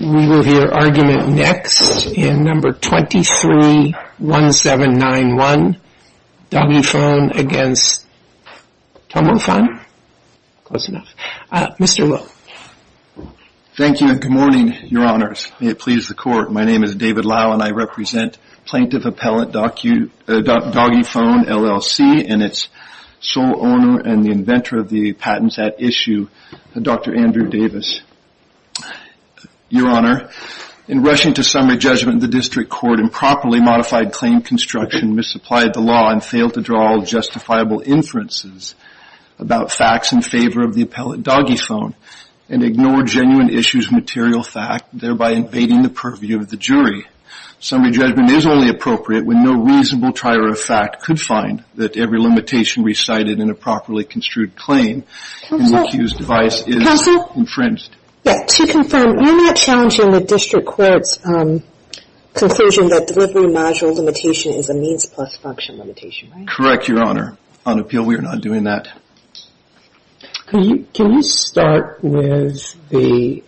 We will hear argument next in number 231791, Doggyphone v. Tomofun. Mr. Lowe. Thank you and good morning, your honors. May it please the court, my name is David Lowe and I represent Plaintiff Appellate Doggyphone LLC and its sole owner and the inventor of the patents at issue, Dr. Andrew Davis. Your honor, in rushing to summary judgment the district court improperly modified claim construction, misapplied the law and failed to draw all justifiable inferences about facts in favor of the appellate Doggyphone and ignored genuine issues material fact, thereby invading the purview of the jury. Summary judgment is only appropriate when no reasonable trier of fact could find that every limitation recited in a properly construed claim in the accused device is infringed. Counsel, to confirm, you are not challenging the district court's conclusion that delivery module limitation is a means plus function limitation, right? Correct, your honor. On appeal we are not doing that. Can you start with the,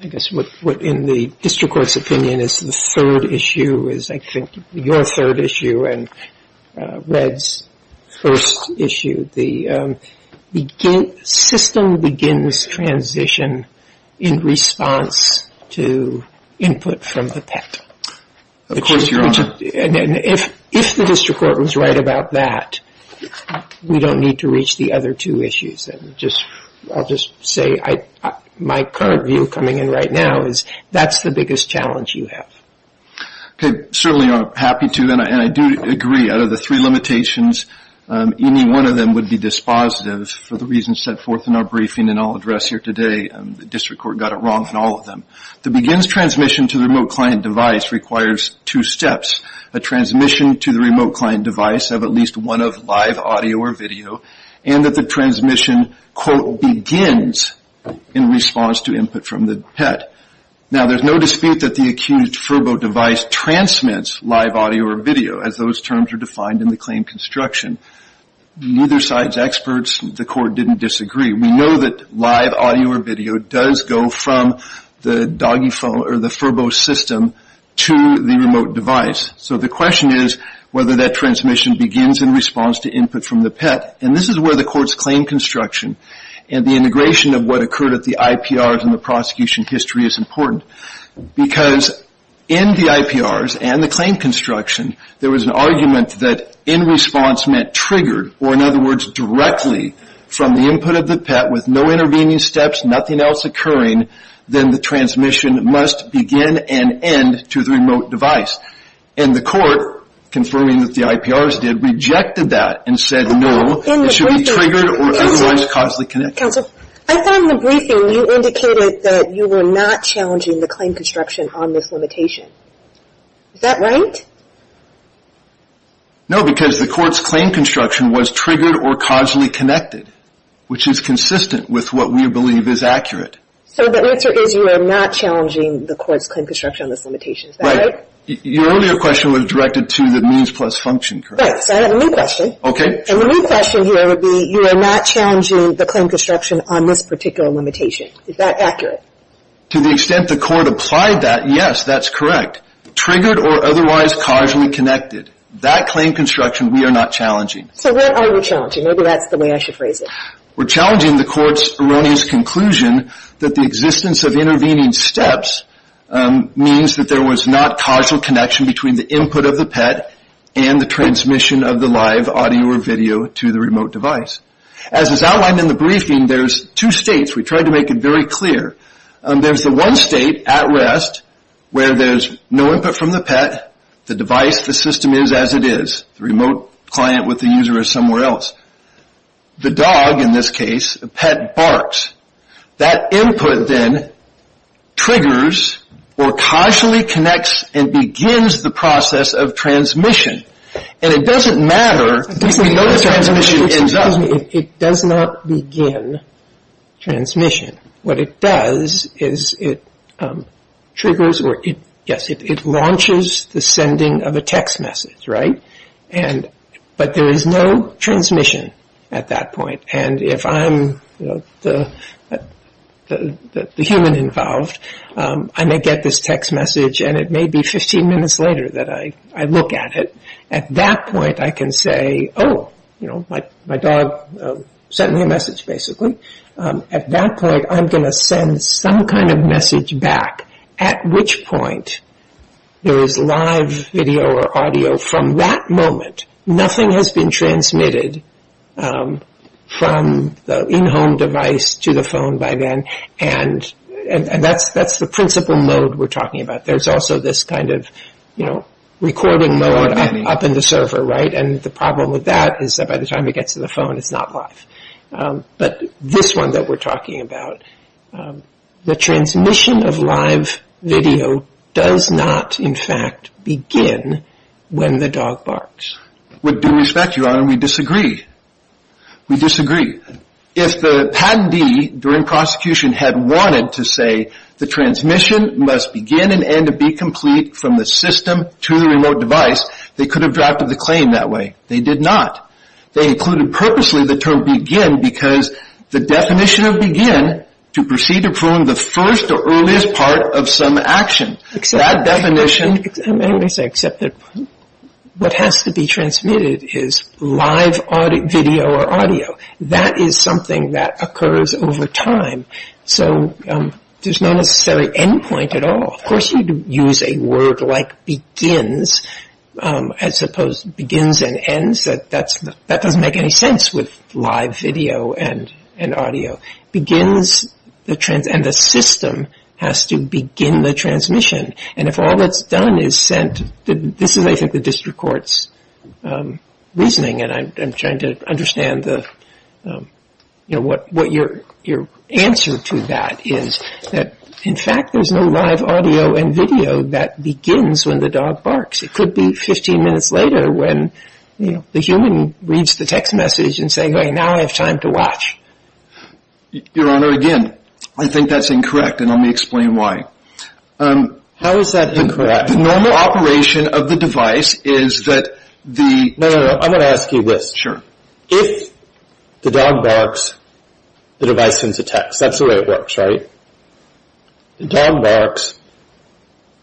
I guess what in the district court's opinion is the third issue is I think your third issue and Red's first issue. The system begins transition in response to input from the patent. Of course, your honor. If the district court was right about that, we don't need to reach the other two issues. I'll just say my current view coming in right now is that's the biggest challenge you have. Certainly, I'm happy to and I do agree out of the three limitations, any one of them would be dispositive for the reasons set forth in our briefing and I'll address here today. The district court got it wrong on all of them. The begins transmission to the remote client device requires two steps. A transmission to the remote client device of at least one of live audio or video and that the transmission quote begins in response to input from the pet. Now, there's no dispute that the accused furbo device transmits live audio or video as those terms are defined in the claim construction. Neither side's experts, the court didn't disagree. We know that live audio or video does go from the doggy phone or the furbo system to the remote device. So the question is whether that transmission begins in response to input from the pet and this is where the court's claim construction and the integration of what occurred at the IPRs and the prosecution history is important. Because in the IPRs and the claim construction, there was an argument that in response meant triggered or in other words directly from the input of the pet with no intervening steps, nothing else occurring, then the transmission must begin and end to the remote device. And the court confirming that the IPRs did rejected that and said no, it should be triggered or otherwise cause the connection. Counsel, I thought in the briefing you indicated that you were not challenging the claim construction on this limitation. Is that right? No, because the court's claim construction was triggered or causally connected, which is consistent with what we believe is accurate. So the answer is you are not challenging the court's claim construction on this limitation, is that right? Right. Your earlier question was directed to the means plus function, correct? Right. So I have a new question. Okay. And the new question here would be you are not challenging the claim construction on this particular limitation. Is that accurate? To the extent the court applied that, yes, that's correct. Triggered or otherwise causally connected. That claim construction we are not challenging. So what are you challenging? Maybe that's the way I should phrase it. We're challenging the court's erroneous conclusion that the existence of intervening steps means that there was not causal connection between the input of the pet and the transmission of the live audio or video to the remote device. As is outlined in the briefing, there's two states. We tried to make it very clear. There's the one state, at rest, where there's no input from the pet, the device, the system is as it is. The remote client with the user is somewhere else. The dog, in this case, the pet barks. That input then triggers or causally connects and begins the process of transmission. And it doesn't matter. It does not begin transmission. What it does is it triggers or it launches the sending of a text message, right? But there is no transmission at that point. And if I'm the human involved, I may get this text message and it may be 15 minutes later that I look at it. At that point I can say, oh, my dog sent me a message, basically. At that point I'm going to send some kind of message back at which point there is live video or audio from that moment. Nothing has been transmitted from the in-home device to the phone by then and that's the principle mode we're talking about. There's also this kind of recording mode up in the server, right? And the problem with that is that by the time it gets to the phone it's not live. But this one that we're talking about, the transmission of live video does not, in fact, begin when the dog barks. With due respect, Your Honor, we disagree. We disagree. If the patentee during prosecution had wanted to say the transmission must begin and end to be complete from the system to the remote device, they could have drafted the claim that way. They did not. They included purposely the term begin because the definition of begin to proceed to perform the first or What has to be transmitted is live video or audio. That is something that occurs over time. So there's no necessary end point at all. Of course you could use a word like begins. I suppose begins and ends, that doesn't make any sense with live video and audio. Begins and the system has to begin the transmission. And if all that's done is sent, this is, I think, the district court's reasoning and I'm trying to understand what your answer to that is. In fact, there's no live audio and video that begins when the dog barks. It could be 15 minutes later when the human reads the text message and says, now I have time to watch. Your Honor, again, I think that's incorrect and let me explain why. How is that incorrect? The normal operation of the device is that the... No, no, no, I'm going to ask you this. Sure. If the dog barks, the device sends a text. That's the way it works, right? The dog barks,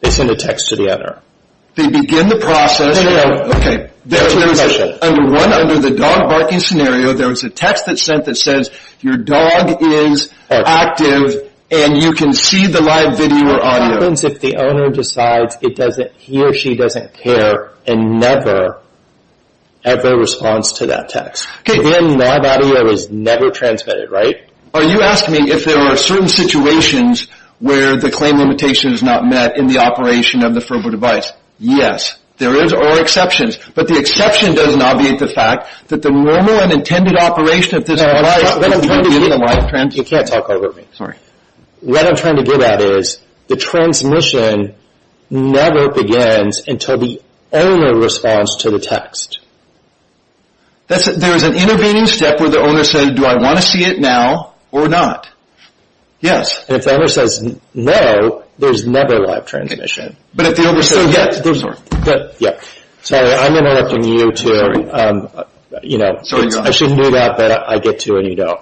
they send a text to the editor. They begin the process... No, your dog is active and you can see the live video or audio. It happens if the owner decides he or she doesn't care and never, ever responds to that text. Okay. And live audio is never transmitted, right? Are you asking me if there are certain situations where the claim limitation is not met in the operation of the verbal device? Yes, there are exceptions, but the exception doesn't obviate the fact that the normal and intended operation of this... You can't talk over me. Sorry. What I'm trying to get at is the transmission never begins until the owner responds to the text. There's an intervening step where the owner says, do I want to see it now or not? Yes. And if the owner says no, there's never live transmission. Sorry, I'm interrupting you too. I shouldn't do that, but I get to and you don't.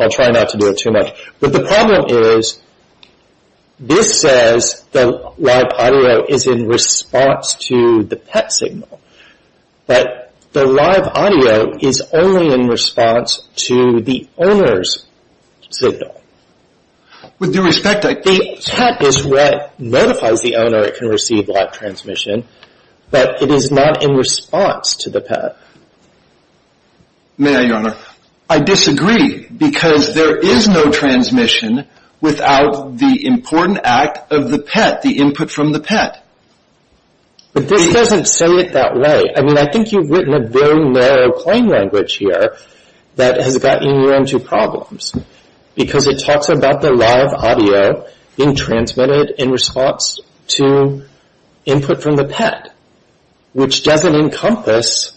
I'll try not to do it too much. But the problem is, this says the live audio is in response to the pet signal, but the live audio is only in response to the owner's signal. With due respect, the pet notifies the owner it can receive live transmission, but it is not in response to the pet. May I, Your Honor? I disagree, because there is no transmission without the important act of the pet, the input from the pet. But this doesn't say it that way. I mean, I think you've written a very narrow claim language here that has gotten you into problems, because it talks about the live audio being transmitted in response to input from the pet, which doesn't encompass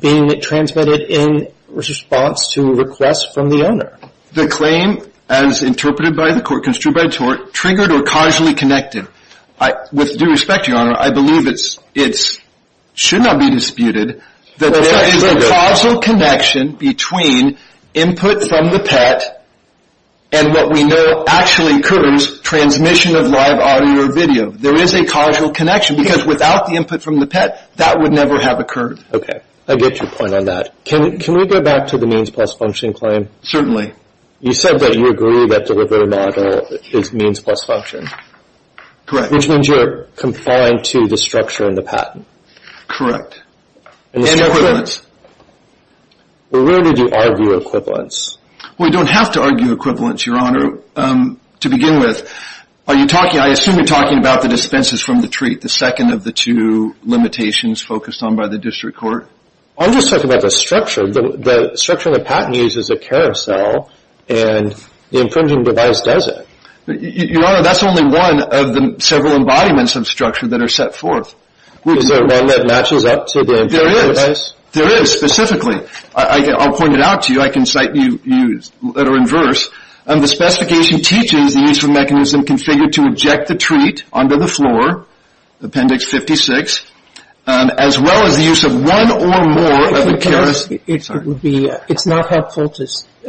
being transmitted in response to requests from the owner. The claim, as interpreted by the court, construed by the court, triggered or causally connected. With due respect, Your Honor, I believe it should not be disputed that there is a causal connection between input from the pet and what we know actually occurs, transmission of live audio or video. There is a causal connection, because without the input from the pet, that would never have occurred. Okay. I get your point on that. Can we go back to the means plus function claim? Certainly. You said that you agree that delivery model is means plus function. Correct. Which means you're confined to the patent. Correct. And equivalence. Where did you argue equivalence? We don't have to argue equivalence, Your Honor. To begin with, are you talking, I assume you're talking about the dispenses from the treat, the second of the two limitations focused on by the district court. I'm just talking about the structure. The structure in the patent uses a carousel and the infringing device does it. Your Honor, that's only one of the several embodiments of structure that are set forth. Is there one that matches up to the infringing device? There is. There is, specifically. I'll point it out to you. I can cite you letter in verse. The specification teaches the use of mechanism configured to eject the treat under the floor, appendix 56, as well as the use of one or more of the carousel. It's not helpful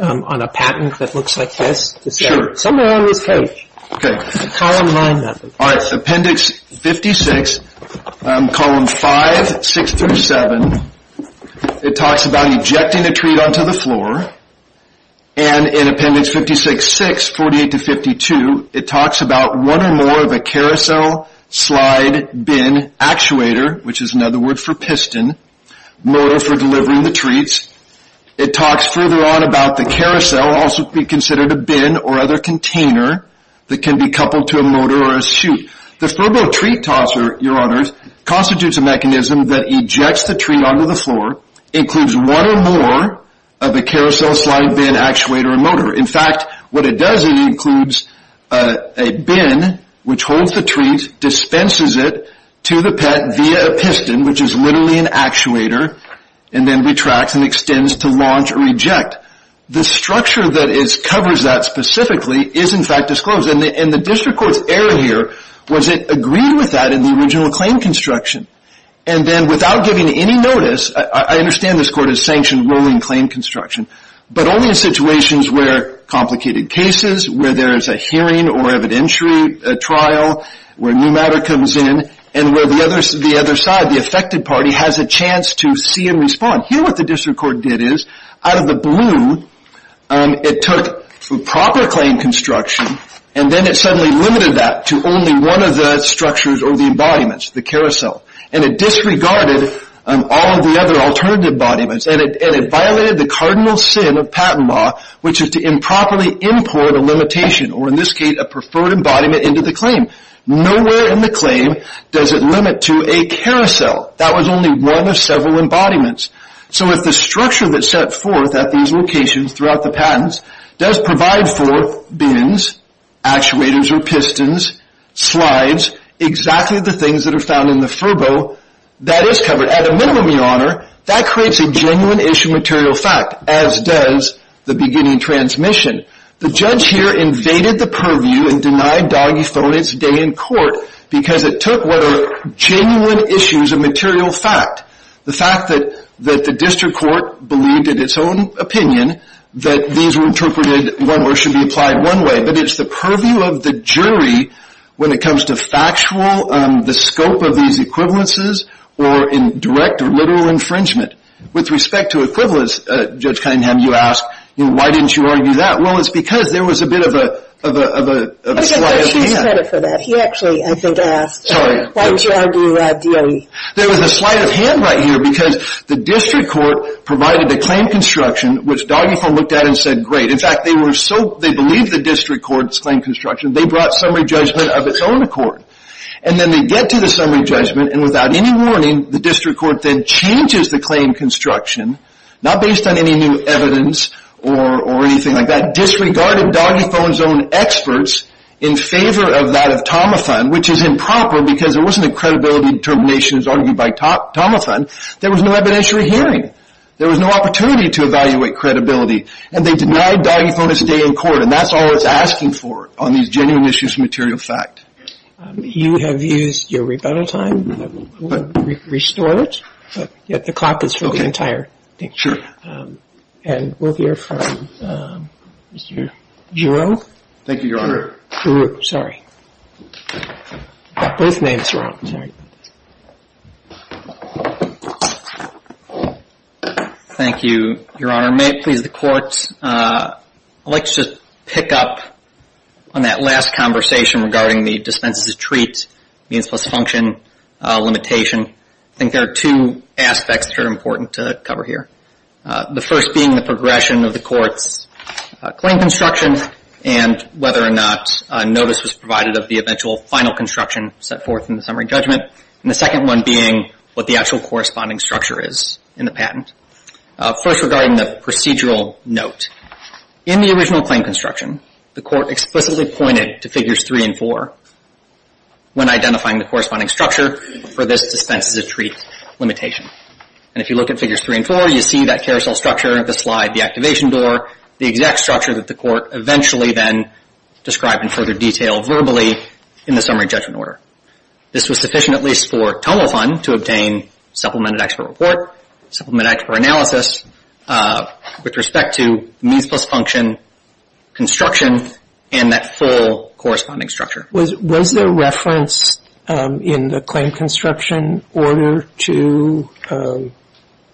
on a patent that looks like this. It's somewhere on this page. It's a column line method. All right. Appendix 56, column 5, 6 through 7, it talks about ejecting a treat onto the floor. And in appendix 56-6, 48 to 52, it talks about one or more of a carousel slide bin actuator, which is another word for piston, modal for delivering the treats. It talks further on about the carousel also being considered a bin or other container that can be coupled to a motor or a chute. The Ferbo treat tosser, Your Honor, constitutes a mechanism that ejects the treat onto the floor, includes one or more of the carousel slide bin actuator or motor. In fact, what it does is it includes a bin which holds the treat, dispenses it to the pet via a piston, which is literally an actuator, and then retracts and extends to launch or eject. The structure that covers that specifically is in fact disclosed. And the district court's error here was it agreed with that in the original claim construction. And then without giving any notice, I understand this court has sanctioned rolling claim construction, but only in situations where complicated cases, where there is a hearing or evidentiary trial, where new matter comes in, and where the other side, the affected party, has a chance to see and respond. Here what the district court did is, out of the blue, it took proper claim construction, and then it suddenly limited that to only one of the structures or the embodiments, the carousel. And it disregarded all of the other alternative embodiments. And it violated the cardinal sin of patent law, which is to improperly import a limitation, or in this case, a preferred embodiment into the claim. Nowhere in the claim does it limit to a carousel. That was only one of several embodiments. So if the structure that's set forth at these locations throughout the patents does provide for bins, actuators or pistons, slides, exactly the things that are found in the furbo, that is covered. At a minimum, Your Honor, that creates a genuine issue material fact, as does the beginning transmission. The judge here invaded the purview and denied doggy phone its day in court because it took what are genuine issues of material fact. The fact that the district court believed in its own opinion that these were interpreted or should be applied one way. But it's the purview of the jury when it comes to factual, the scope of these equivalences, or in direct or literal infringement. With respect to equivalence, Judge Cunningham, you ask, why didn't you argue that? Well, it's because there was a bit of a slide at the end. He actually, I think, asked, why didn't you argue that? There was a slight of hand right here because the district court provided the claim construction, which doggy phone looked at and said, great. In fact, they believed the district court's claim construction. They brought summary judgment of its own accord. And then they get to the summary judgment and without any warning, the district court then changes the claim construction, not based on any new evidence or anything like that, disregarded doggy phone's own experts in favor of that of Tomathon, which is improper because there wasn't a credibility determination as argued by Tomathon. There was no evidentiary hearing. There was no opportunity to evaluate credibility. And they denied doggy phone a stay in court. And that's all it's asking for on these genuine issues of material fact. You have used your rebuttal time. We'll restore it. But the clock is for the entire thing. And we'll hear from Mr. Giroux. Thank you, Your Honor. Giroux, sorry. Both names are wrong. Thank you, Your Honor. May it please the courts, I'd like to just pick up on that last conversation regarding the dispenses of treats, means plus function limitation. I think there are two being the progression of the court's claim construction and whether or not notice was provided of the eventual final construction set forth in the summary judgment. And the second one being what the actual corresponding structure is in the patent. First, regarding the procedural note, in the original claim construction, the court explicitly pointed to figures three and four when identifying the corresponding structure for this dispenses of treats limitation. And if you look at figures three and four, you see that carousel structure, the slide, the activation door, the exact structure that the court eventually then described in further detail verbally in the summary judgment order. This was sufficient at least for TOMO fund to obtain supplemented expert report, supplemented expert analysis with respect to means plus function construction and that full corresponding structure. Was there reference in the claim construction order to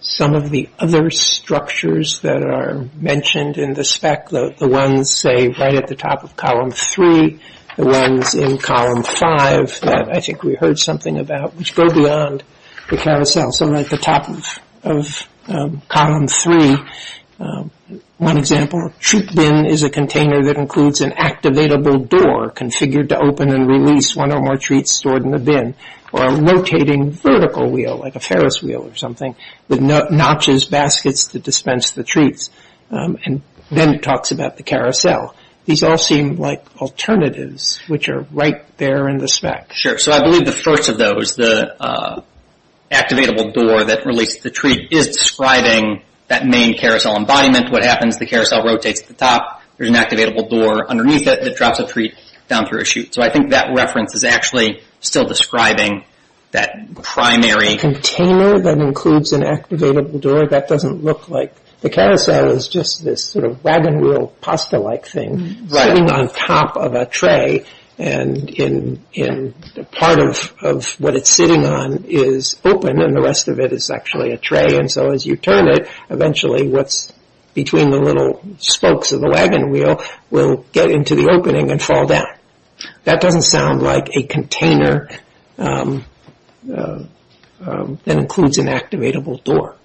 some of the other structures that are mentioned in the spec, the ones, say, right at the top of column three, the ones in column five that I think we heard something about which go beyond the carousel. So right at the top of column three, one example, treat bin is a container that includes an activatable door configured to open and release one or more treats stored in the bin or a rotating vertical wheel like a Ferris wheel or something with notches, baskets to dispense the treats. And then it talks about the carousel. These all seem like alternatives which are right there in the spec. Sure. So I believe the first of those, the activatable door that released the treat is describing that main carousel embodiment. What happens? The carousel rotates at the top. There's an activatable door underneath it that drops a treat down through a chute. So I think that reference is actually still describing that primary container that includes an activatable door. That doesn't look like the carousel is just this sort of wagon wheel pasta-like thing sitting on top of a tray. And in part of what it's sitting on is open and the rest of it is actually a tray. And so as you turn it, eventually what's between the little spokes of the wagon wheel will get into the opening and fall down. That doesn't sound like a container that includes an activatable door.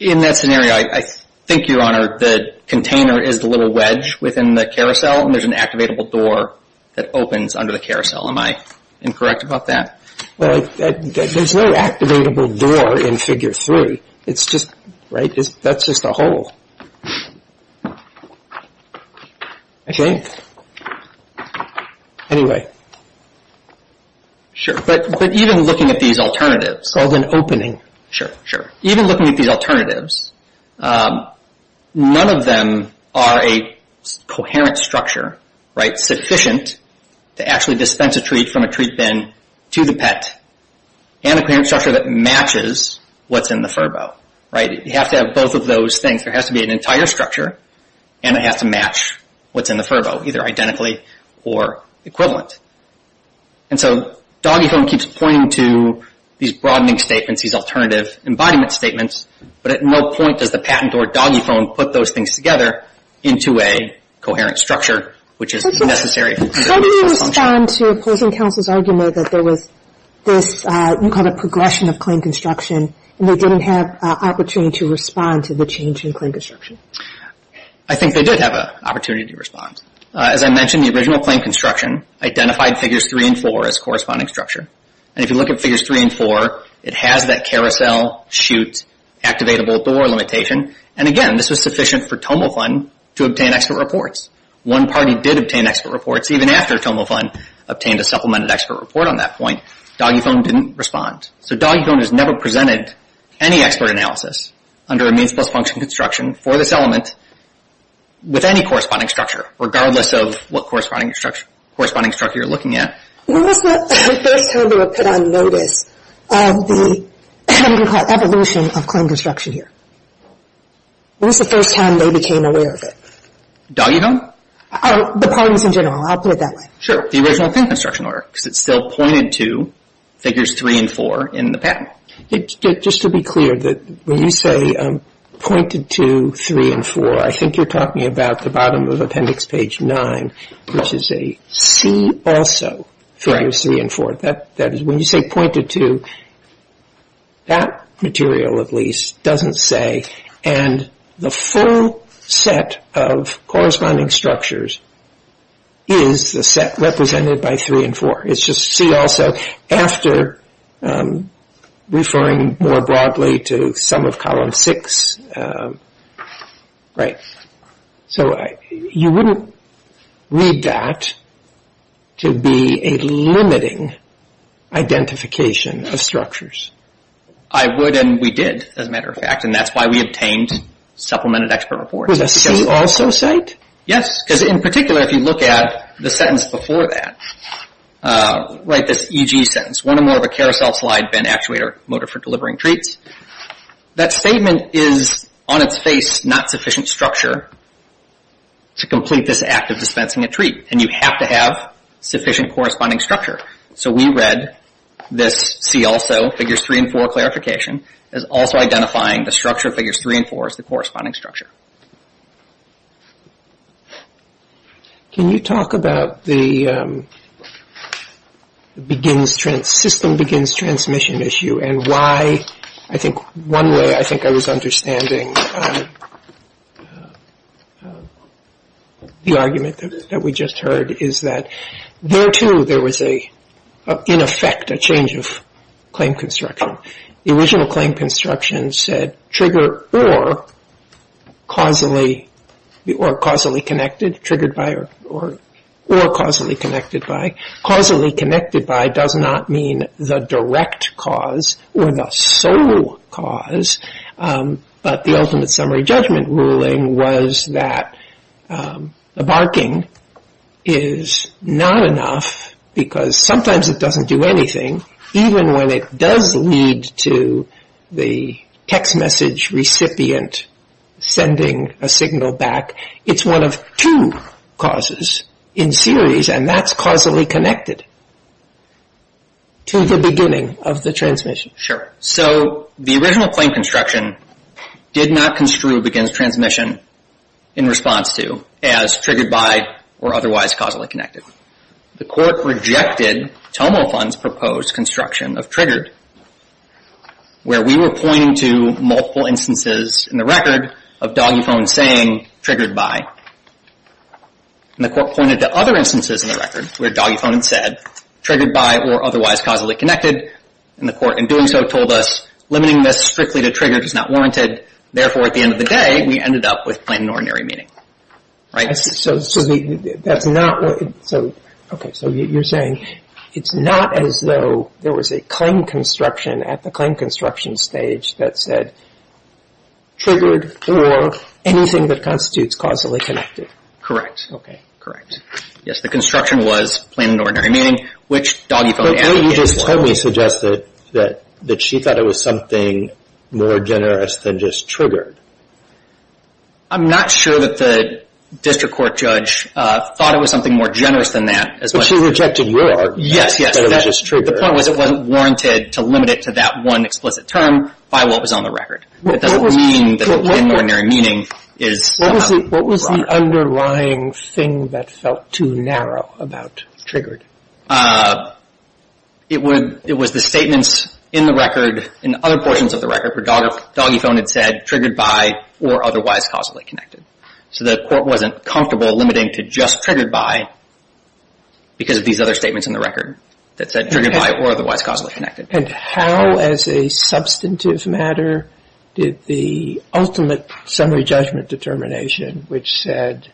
In that scenario, I think, Your Honor, the container is the little wedge within the carousel, and there's an activatable door that opens under the carousel. Am I incorrect about that? There's no activatable door in Figure 3. That's just a hole. But even looking at these alternatives... It's called an opening. Even looking at these alternatives, none of them are a coherent structure, right? to actually dispense a treat from a treat bin to the pet, and a coherent structure that matches what's in the furbo, right? You have to have both of those things. There has to be an entire structure, and it has to match what's in the furbo, either identically or equivalent. And so Doggy Phone keeps pointing to these broadening statements, these alternative embodiment statements, but at no point does the patent or Doggy Phone put those things together into a coherent structure, which is necessary. How do you respond to opposing counsel's argument that there was this, you called it progression of claim construction, and they didn't have an opportunity to respond to the change in claim construction? I think they did have an opportunity to respond. As I mentioned, the original claim construction identified Figures 3 and 4 as corresponding structure. And if you look at Figures 3 and 4, it has that carousel, chute, activatable door limitation. And again, this was sufficient for TOMO Fund to obtain expert reports. One party did obtain expert reports. Even after TOMO Fund obtained a supplemented expert report on that point, Doggy Phone didn't respond. So Doggy Phone has never presented any expert analysis under a means plus function construction for this element with any corresponding structure, regardless of what corresponding structure you're looking at. When was the first time they were put on notice of the evolution of claim construction here? When was the first time they became aware of it? Doggy Phone? The parties in general. I'll put it that way. Sure. The original claim construction order, because it's still pointed to Figures 3 and 4 in the patent. Just to be clear, when you say pointed to 3 and 4, I think you're talking about the bottom of Appendix Page 9, which is a see also Figures 3 and 4. When you say pointed to, that material at least doesn't say. And the full set of corresponding structures is the set represented by 3 and 4. It's just see also after referring more broadly to some of Column 6. So you wouldn't read that to be a limiting identification of structures. I would and we did, as a matter of fact. And that's why we obtained Supplemented Expert Reports. Was a see also cite? Yes, because in particular, if you look at the sentence before that, like this EG sentence, one or more of a carousel slide bent actuator motor for delivering treats, that statement is on its face not sufficient structure to complete this act of dispensing a treat. And you have to have sufficient corresponding structure. So we read this see also Figures 3 and 4 clarification as also identifying the structure of Figures 3 and 4 as the corresponding structure. Can you talk about the system begins transmission issue and why I think one way I think I was understanding the argument that we just heard is that there too there was in effect a change of claim construction. The original claim construction said trigger or causally connected. Triggered by or causally connected by. Causally connected by does not mean the direct cause or the sole cause. But the ultimate summary judgment ruling was that the barking is not enough because sometimes it doesn't do anything, even when it does lead to the text message recipient sending a signal back. It's one of two causes in series and that's causally connected to the beginning of the transmission. Sure. So the original claim construction did not construe begins transmission in response to as triggered by or otherwise causally connected. The court rejected Tomo Fund's proposed construction of triggered where we were pointing to multiple instances in the record of doggy phone saying triggered by. And the court pointed to other instances in the record where doggy phone had said triggered by or otherwise causally connected. And the court in doing so told us limiting this strictly to triggered is not warranted. Therefore, at the end of the day, we ended up with plain and ordinary meaning. So that's not so. OK. So you're saying it's not as though there was a claim construction at the claim construction stage that said triggered for anything that constitutes causally connected. Correct. OK. Correct. Yes. The construction was plain and ordinary meaning, which doggy phone application was. But what you just told me suggested that she thought it was something more generous than just triggered. I'm not sure that the district court judge thought it was something more generous than that. But she rejected your argument that it was just triggered. Yes, yes. The point was it wasn't warranted to limit it to that one explicit term by what was on the record. It doesn't mean that plain and ordinary meaning is not warranted. What was the underlying thing that felt too narrow about triggered? It was the statements in the record, in other portions of the record, where doggy phone had said triggered by or otherwise causally connected. So the court wasn't comfortable limiting to just triggered by because of these other statements in the record that said triggered by or otherwise causally connected. And how, as a substantive matter, did the ultimate summary judgment determination, which said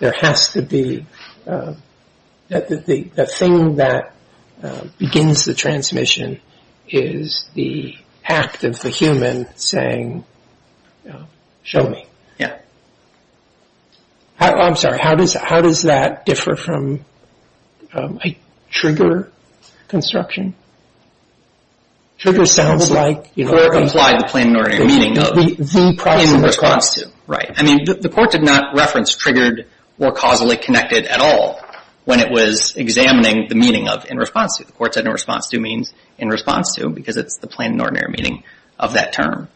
the thing that begins the transmission is the act of the human saying, show me. I'm sorry, how does that differ from a trigger construction? Trigger sounds like, you know. Trigger implied the plain and ordinary meaning of in response to. I mean, the court did not reference triggered or causally connected at all when it was examining the meaning of in response to. The court said in response to means in response to because it's the plain and ordinary meaning of that term.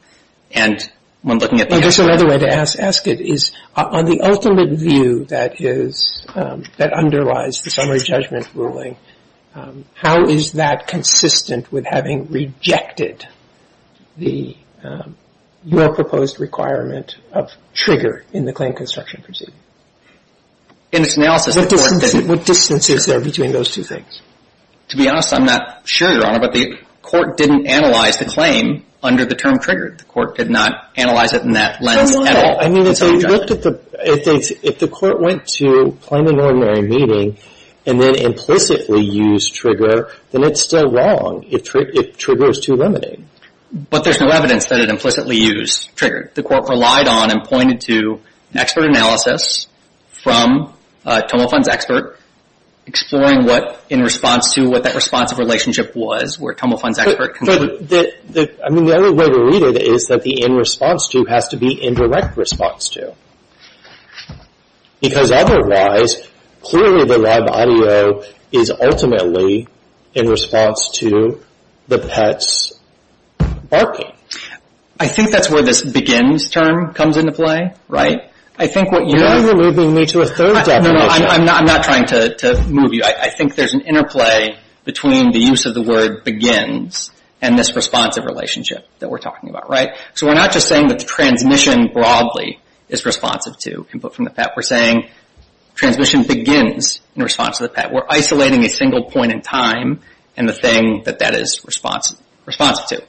And when looking at the. I guess another way to ask it is on the ultimate view that is, that underlies the summary judgment ruling, how is that consistent with having rejected the, your proposed requirement of trigger in the claim construction proceeding? In its analysis. What distance is there between those two things? To be honest, I'm not sure, Your Honor, but the court didn't analyze the claim under the term triggered. The court did not analyze it in that lens at all. I mean, if they looked at the, if the court went to plain and ordinary meaning and then implicitly used trigger, then it's still wrong if trigger is too limiting. But there's no evidence that it implicitly used trigger. The court relied on and pointed to expert analysis from Tomofund's expert exploring what in response to, what that response of relationship was where Tomofund's expert. I mean, the other way to read it is that the in response to has to be indirect response to. Because otherwise, clearly the live audio is ultimately in response to the pet's barking. I think that's where this begins term comes into play, right? I think what you're... You're moving me to a third definition. I'm not trying to move you. I think there's an interplay between the use of the word begins and this responsive relationship that we're talking about, right? So we're not just saying that the transmission broadly is responsive to input from the pet. We're saying transmission begins in response to the pet. We're isolating a single point in time and the thing that that is responsive to.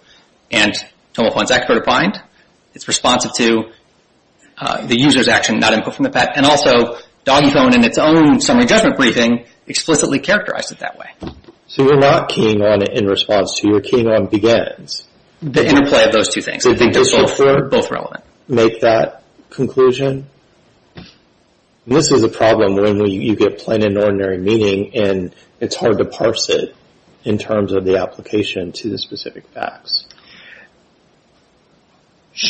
And Tomofund's expert opined it's responsive to the user's action, not input from the pet. And also DoggyPhone in its own summary judgment briefing explicitly characterized it that way. So you're not keying on in response to. You're keying on begins. The interplay of those two things. I think they're both relevant. Make that conclusion. This is a problem when you get plain and ordinary meaning and it's hard to parse it in terms of the application to the specific facts.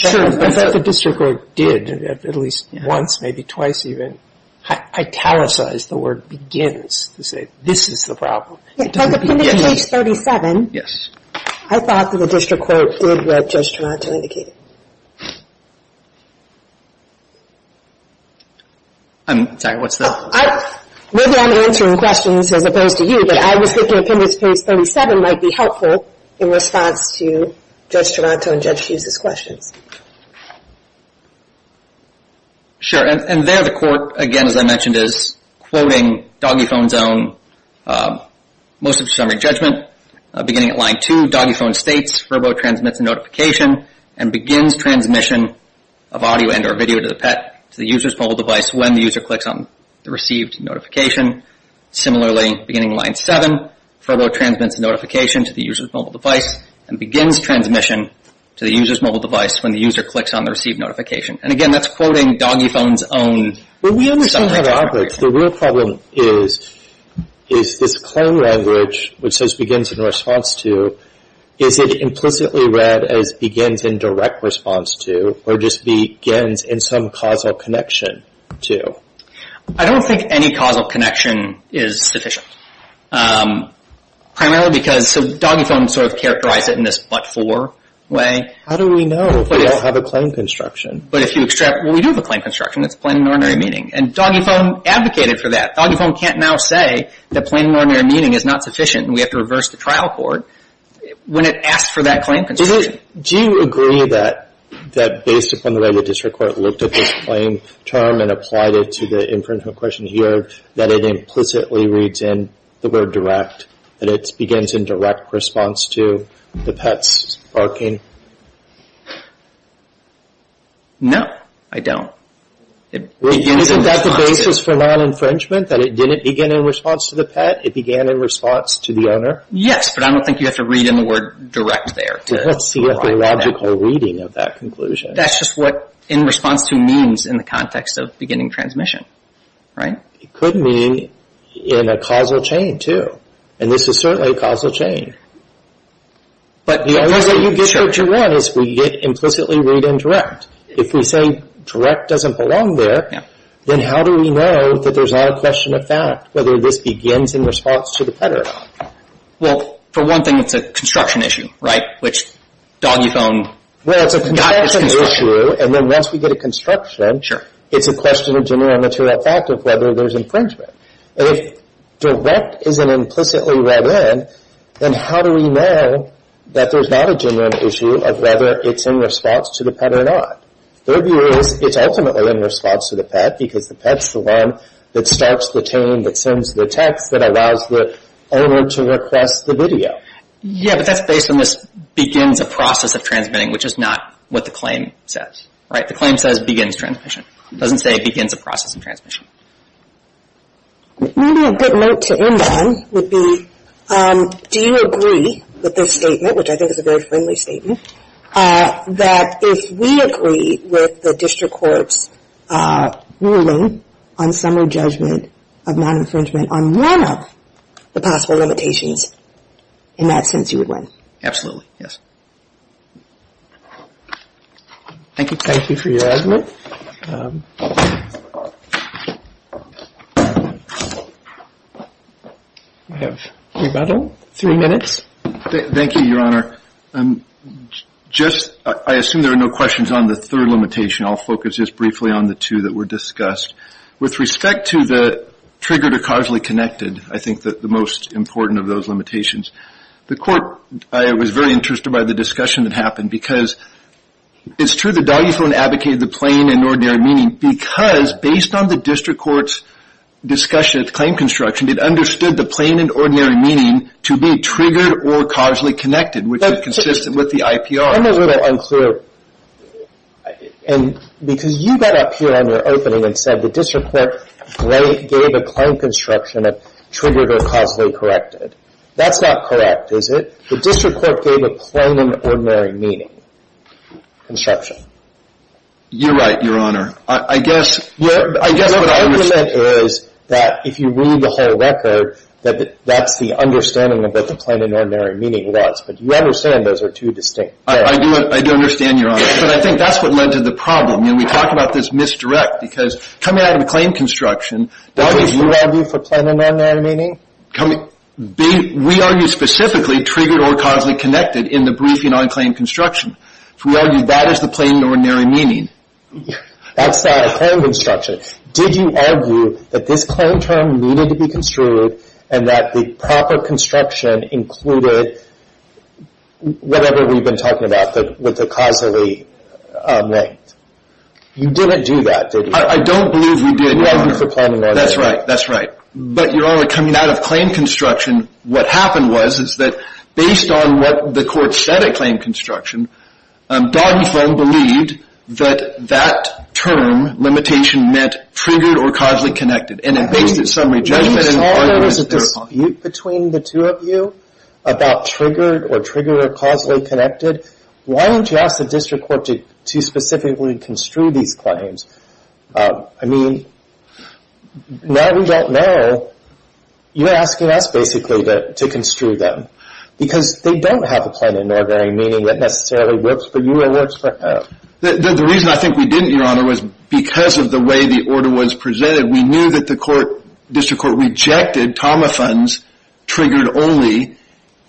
I thought the district court did at least once, maybe twice even, italicize the word begins to say this is the problem. From appendix page 37, I thought that the district court did what Judge Toronto indicated. I'm sorry, what's that? Maybe I'm answering questions as opposed to you, but I was thinking appendix page 37 might be helpful in response to Judge Toronto and Judge Hughes' questions. Sure, and there the court, again as I mentioned, is quoting DoggyPhone's own most of the summary judgment. Beginning at line 2, DoggyPhone states, Furbo transmits a notification and begins transmission of audio and or video to the pet, to the user's mobile device when the user clicks on the received notification. Similarly, beginning line 7, Furbo transmits a notification to the user's mobile device and begins transmission to the user's mobile device when the user clicks on the received notification. And again, that's quoting DoggyPhone's own summary judgment. Well, we understand that algorithm. The real problem is, is this claim language which says begins in response to, is it implicitly read as begins in direct response to or just begins in some causal connection to? I don't think any causal connection is sufficient. Primarily because, so DoggyPhone sort of characterized it in this but-for way. How do we know if we don't have a claim construction? But if you extract, well, we do have a claim construction. It's plain and ordinary meaning. And DoggyPhone advocated for that. DoggyPhone can't now say that plain and ordinary meaning is not sufficient and we have to reverse the trial court when it asks for that claim construction. Do you agree that based upon the way the district court looked at this claim term and applied it to the infringement question here, that it implicitly reads in the word direct, that it begins in direct response to the pet's barking? No, I don't. Isn't that the basis for non-infringement, that it didn't begin in response to the pet? It began in response to the owner? Yes, but I don't think you have to read in the word direct there. Let's see if the logical reading of that conclusion. That's just what in response to means in the context of beginning transmission, right? It could mean in a causal chain, too, and this is certainly a causal chain. The only way you get what you want is if we get implicitly read in direct. If we say direct doesn't belong there, then how do we know that there's not a question of fact, whether this begins in response to the pet or not? Well, for one thing, it's a construction issue, right, which DoggyPhone- Well, it's a construction issue, and then once we get a construction, it's a question of general material fact of whether there's infringement. And if direct isn't implicitly read in, then how do we know that there's not a general issue of whether it's in response to the pet or not? Their view is it's ultimately in response to the pet, because the pet's the one that starts the tune, that sends the text, that allows the owner to request the video. Yeah, but that's based on this begins a process of transmitting, which is not what the claim says, right? The claim says begins transmission. It doesn't say begins a process of transmission. Maybe a good note to end on would be do you agree with this statement, which I think is a very friendly statement, that if we agree with the district court's ruling on summary judgment of non-infringement on one of the possible limitations, in that sense you would win? Absolutely, yes. Thank you. Thank you for your argument. We have three minutes. Thank you, Your Honor. I assume there are no questions on the third limitation. I'll focus just briefly on the two that were discussed. With respect to the triggered or causally connected, I think the most important of those limitations, the court was very interested by the discussion that happened, because it's true the doggy phone advocated the plain and ordinary meaning, because based on the district court's discussion of the claim construction, it understood the plain and ordinary meaning to be triggered or causally connected, which is consistent with the IPR. Some of those are unclear, because you got up here on your opening and said the district court gave a claim construction that triggered or causally corrected. That's not correct, is it? The district court gave a plain and ordinary meaning construction. You're right, Your Honor. I guess what I understand is that if you read the whole record, that that's the understanding of what the plain and ordinary meaning was, but you understand those are two distinct things. I do understand, Your Honor. But I think that's what led to the problem. You know, we talk about this misdirect, because coming out of the claim construction, that was you. Did you argue for plain and ordinary meaning? We argue specifically triggered or causally connected in the briefing on claim construction. We argue that is the plain and ordinary meaning. That's the plain construction. Did you argue that this claim term needed to be construed and that the proper construction included whatever we've been talking about with the causally linked? You didn't do that, did you? I don't believe we did, Your Honor. You argued for plain and ordinary. That's right. But, Your Honor, coming out of claim construction, what happened was that based on what the court said at claim construction, Doggy Phone believed that that term, limitation, meant triggered or causally connected. When you saw there was a dispute between the two of you about triggered or triggered or causally connected, why didn't you ask the district court to specifically construe these claims? I mean, now we don't know. You're asking us, basically, to construe them, because they don't have a plain and ordinary meaning that necessarily works for you or works for her. The reason I think we didn't, Your Honor, was because of the way the order was presented. We knew that the district court rejected TAMA funds, triggered only,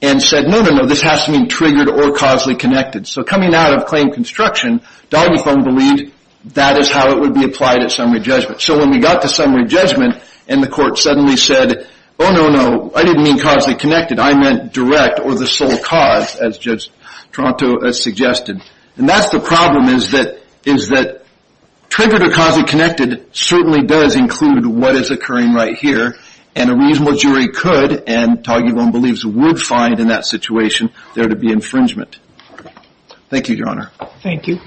and said, no, no, no, this has to mean triggered or causally connected. So coming out of claim construction, Doggy Phone believed that is how it would be applied at summary judgment. So when we got to summary judgment and the court suddenly said, oh, no, no, I didn't mean causally connected. I meant direct or the sole cause, as Judge Toronto has suggested. And that's the problem, is that triggered or causally connected certainly does include what is occurring right here, and a reasonable jury could and Doggy Phone believes would find in that situation there to be infringement. Thank you, Your Honor. Thank you.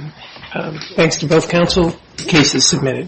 Thanks to both counsel. The case is submitted.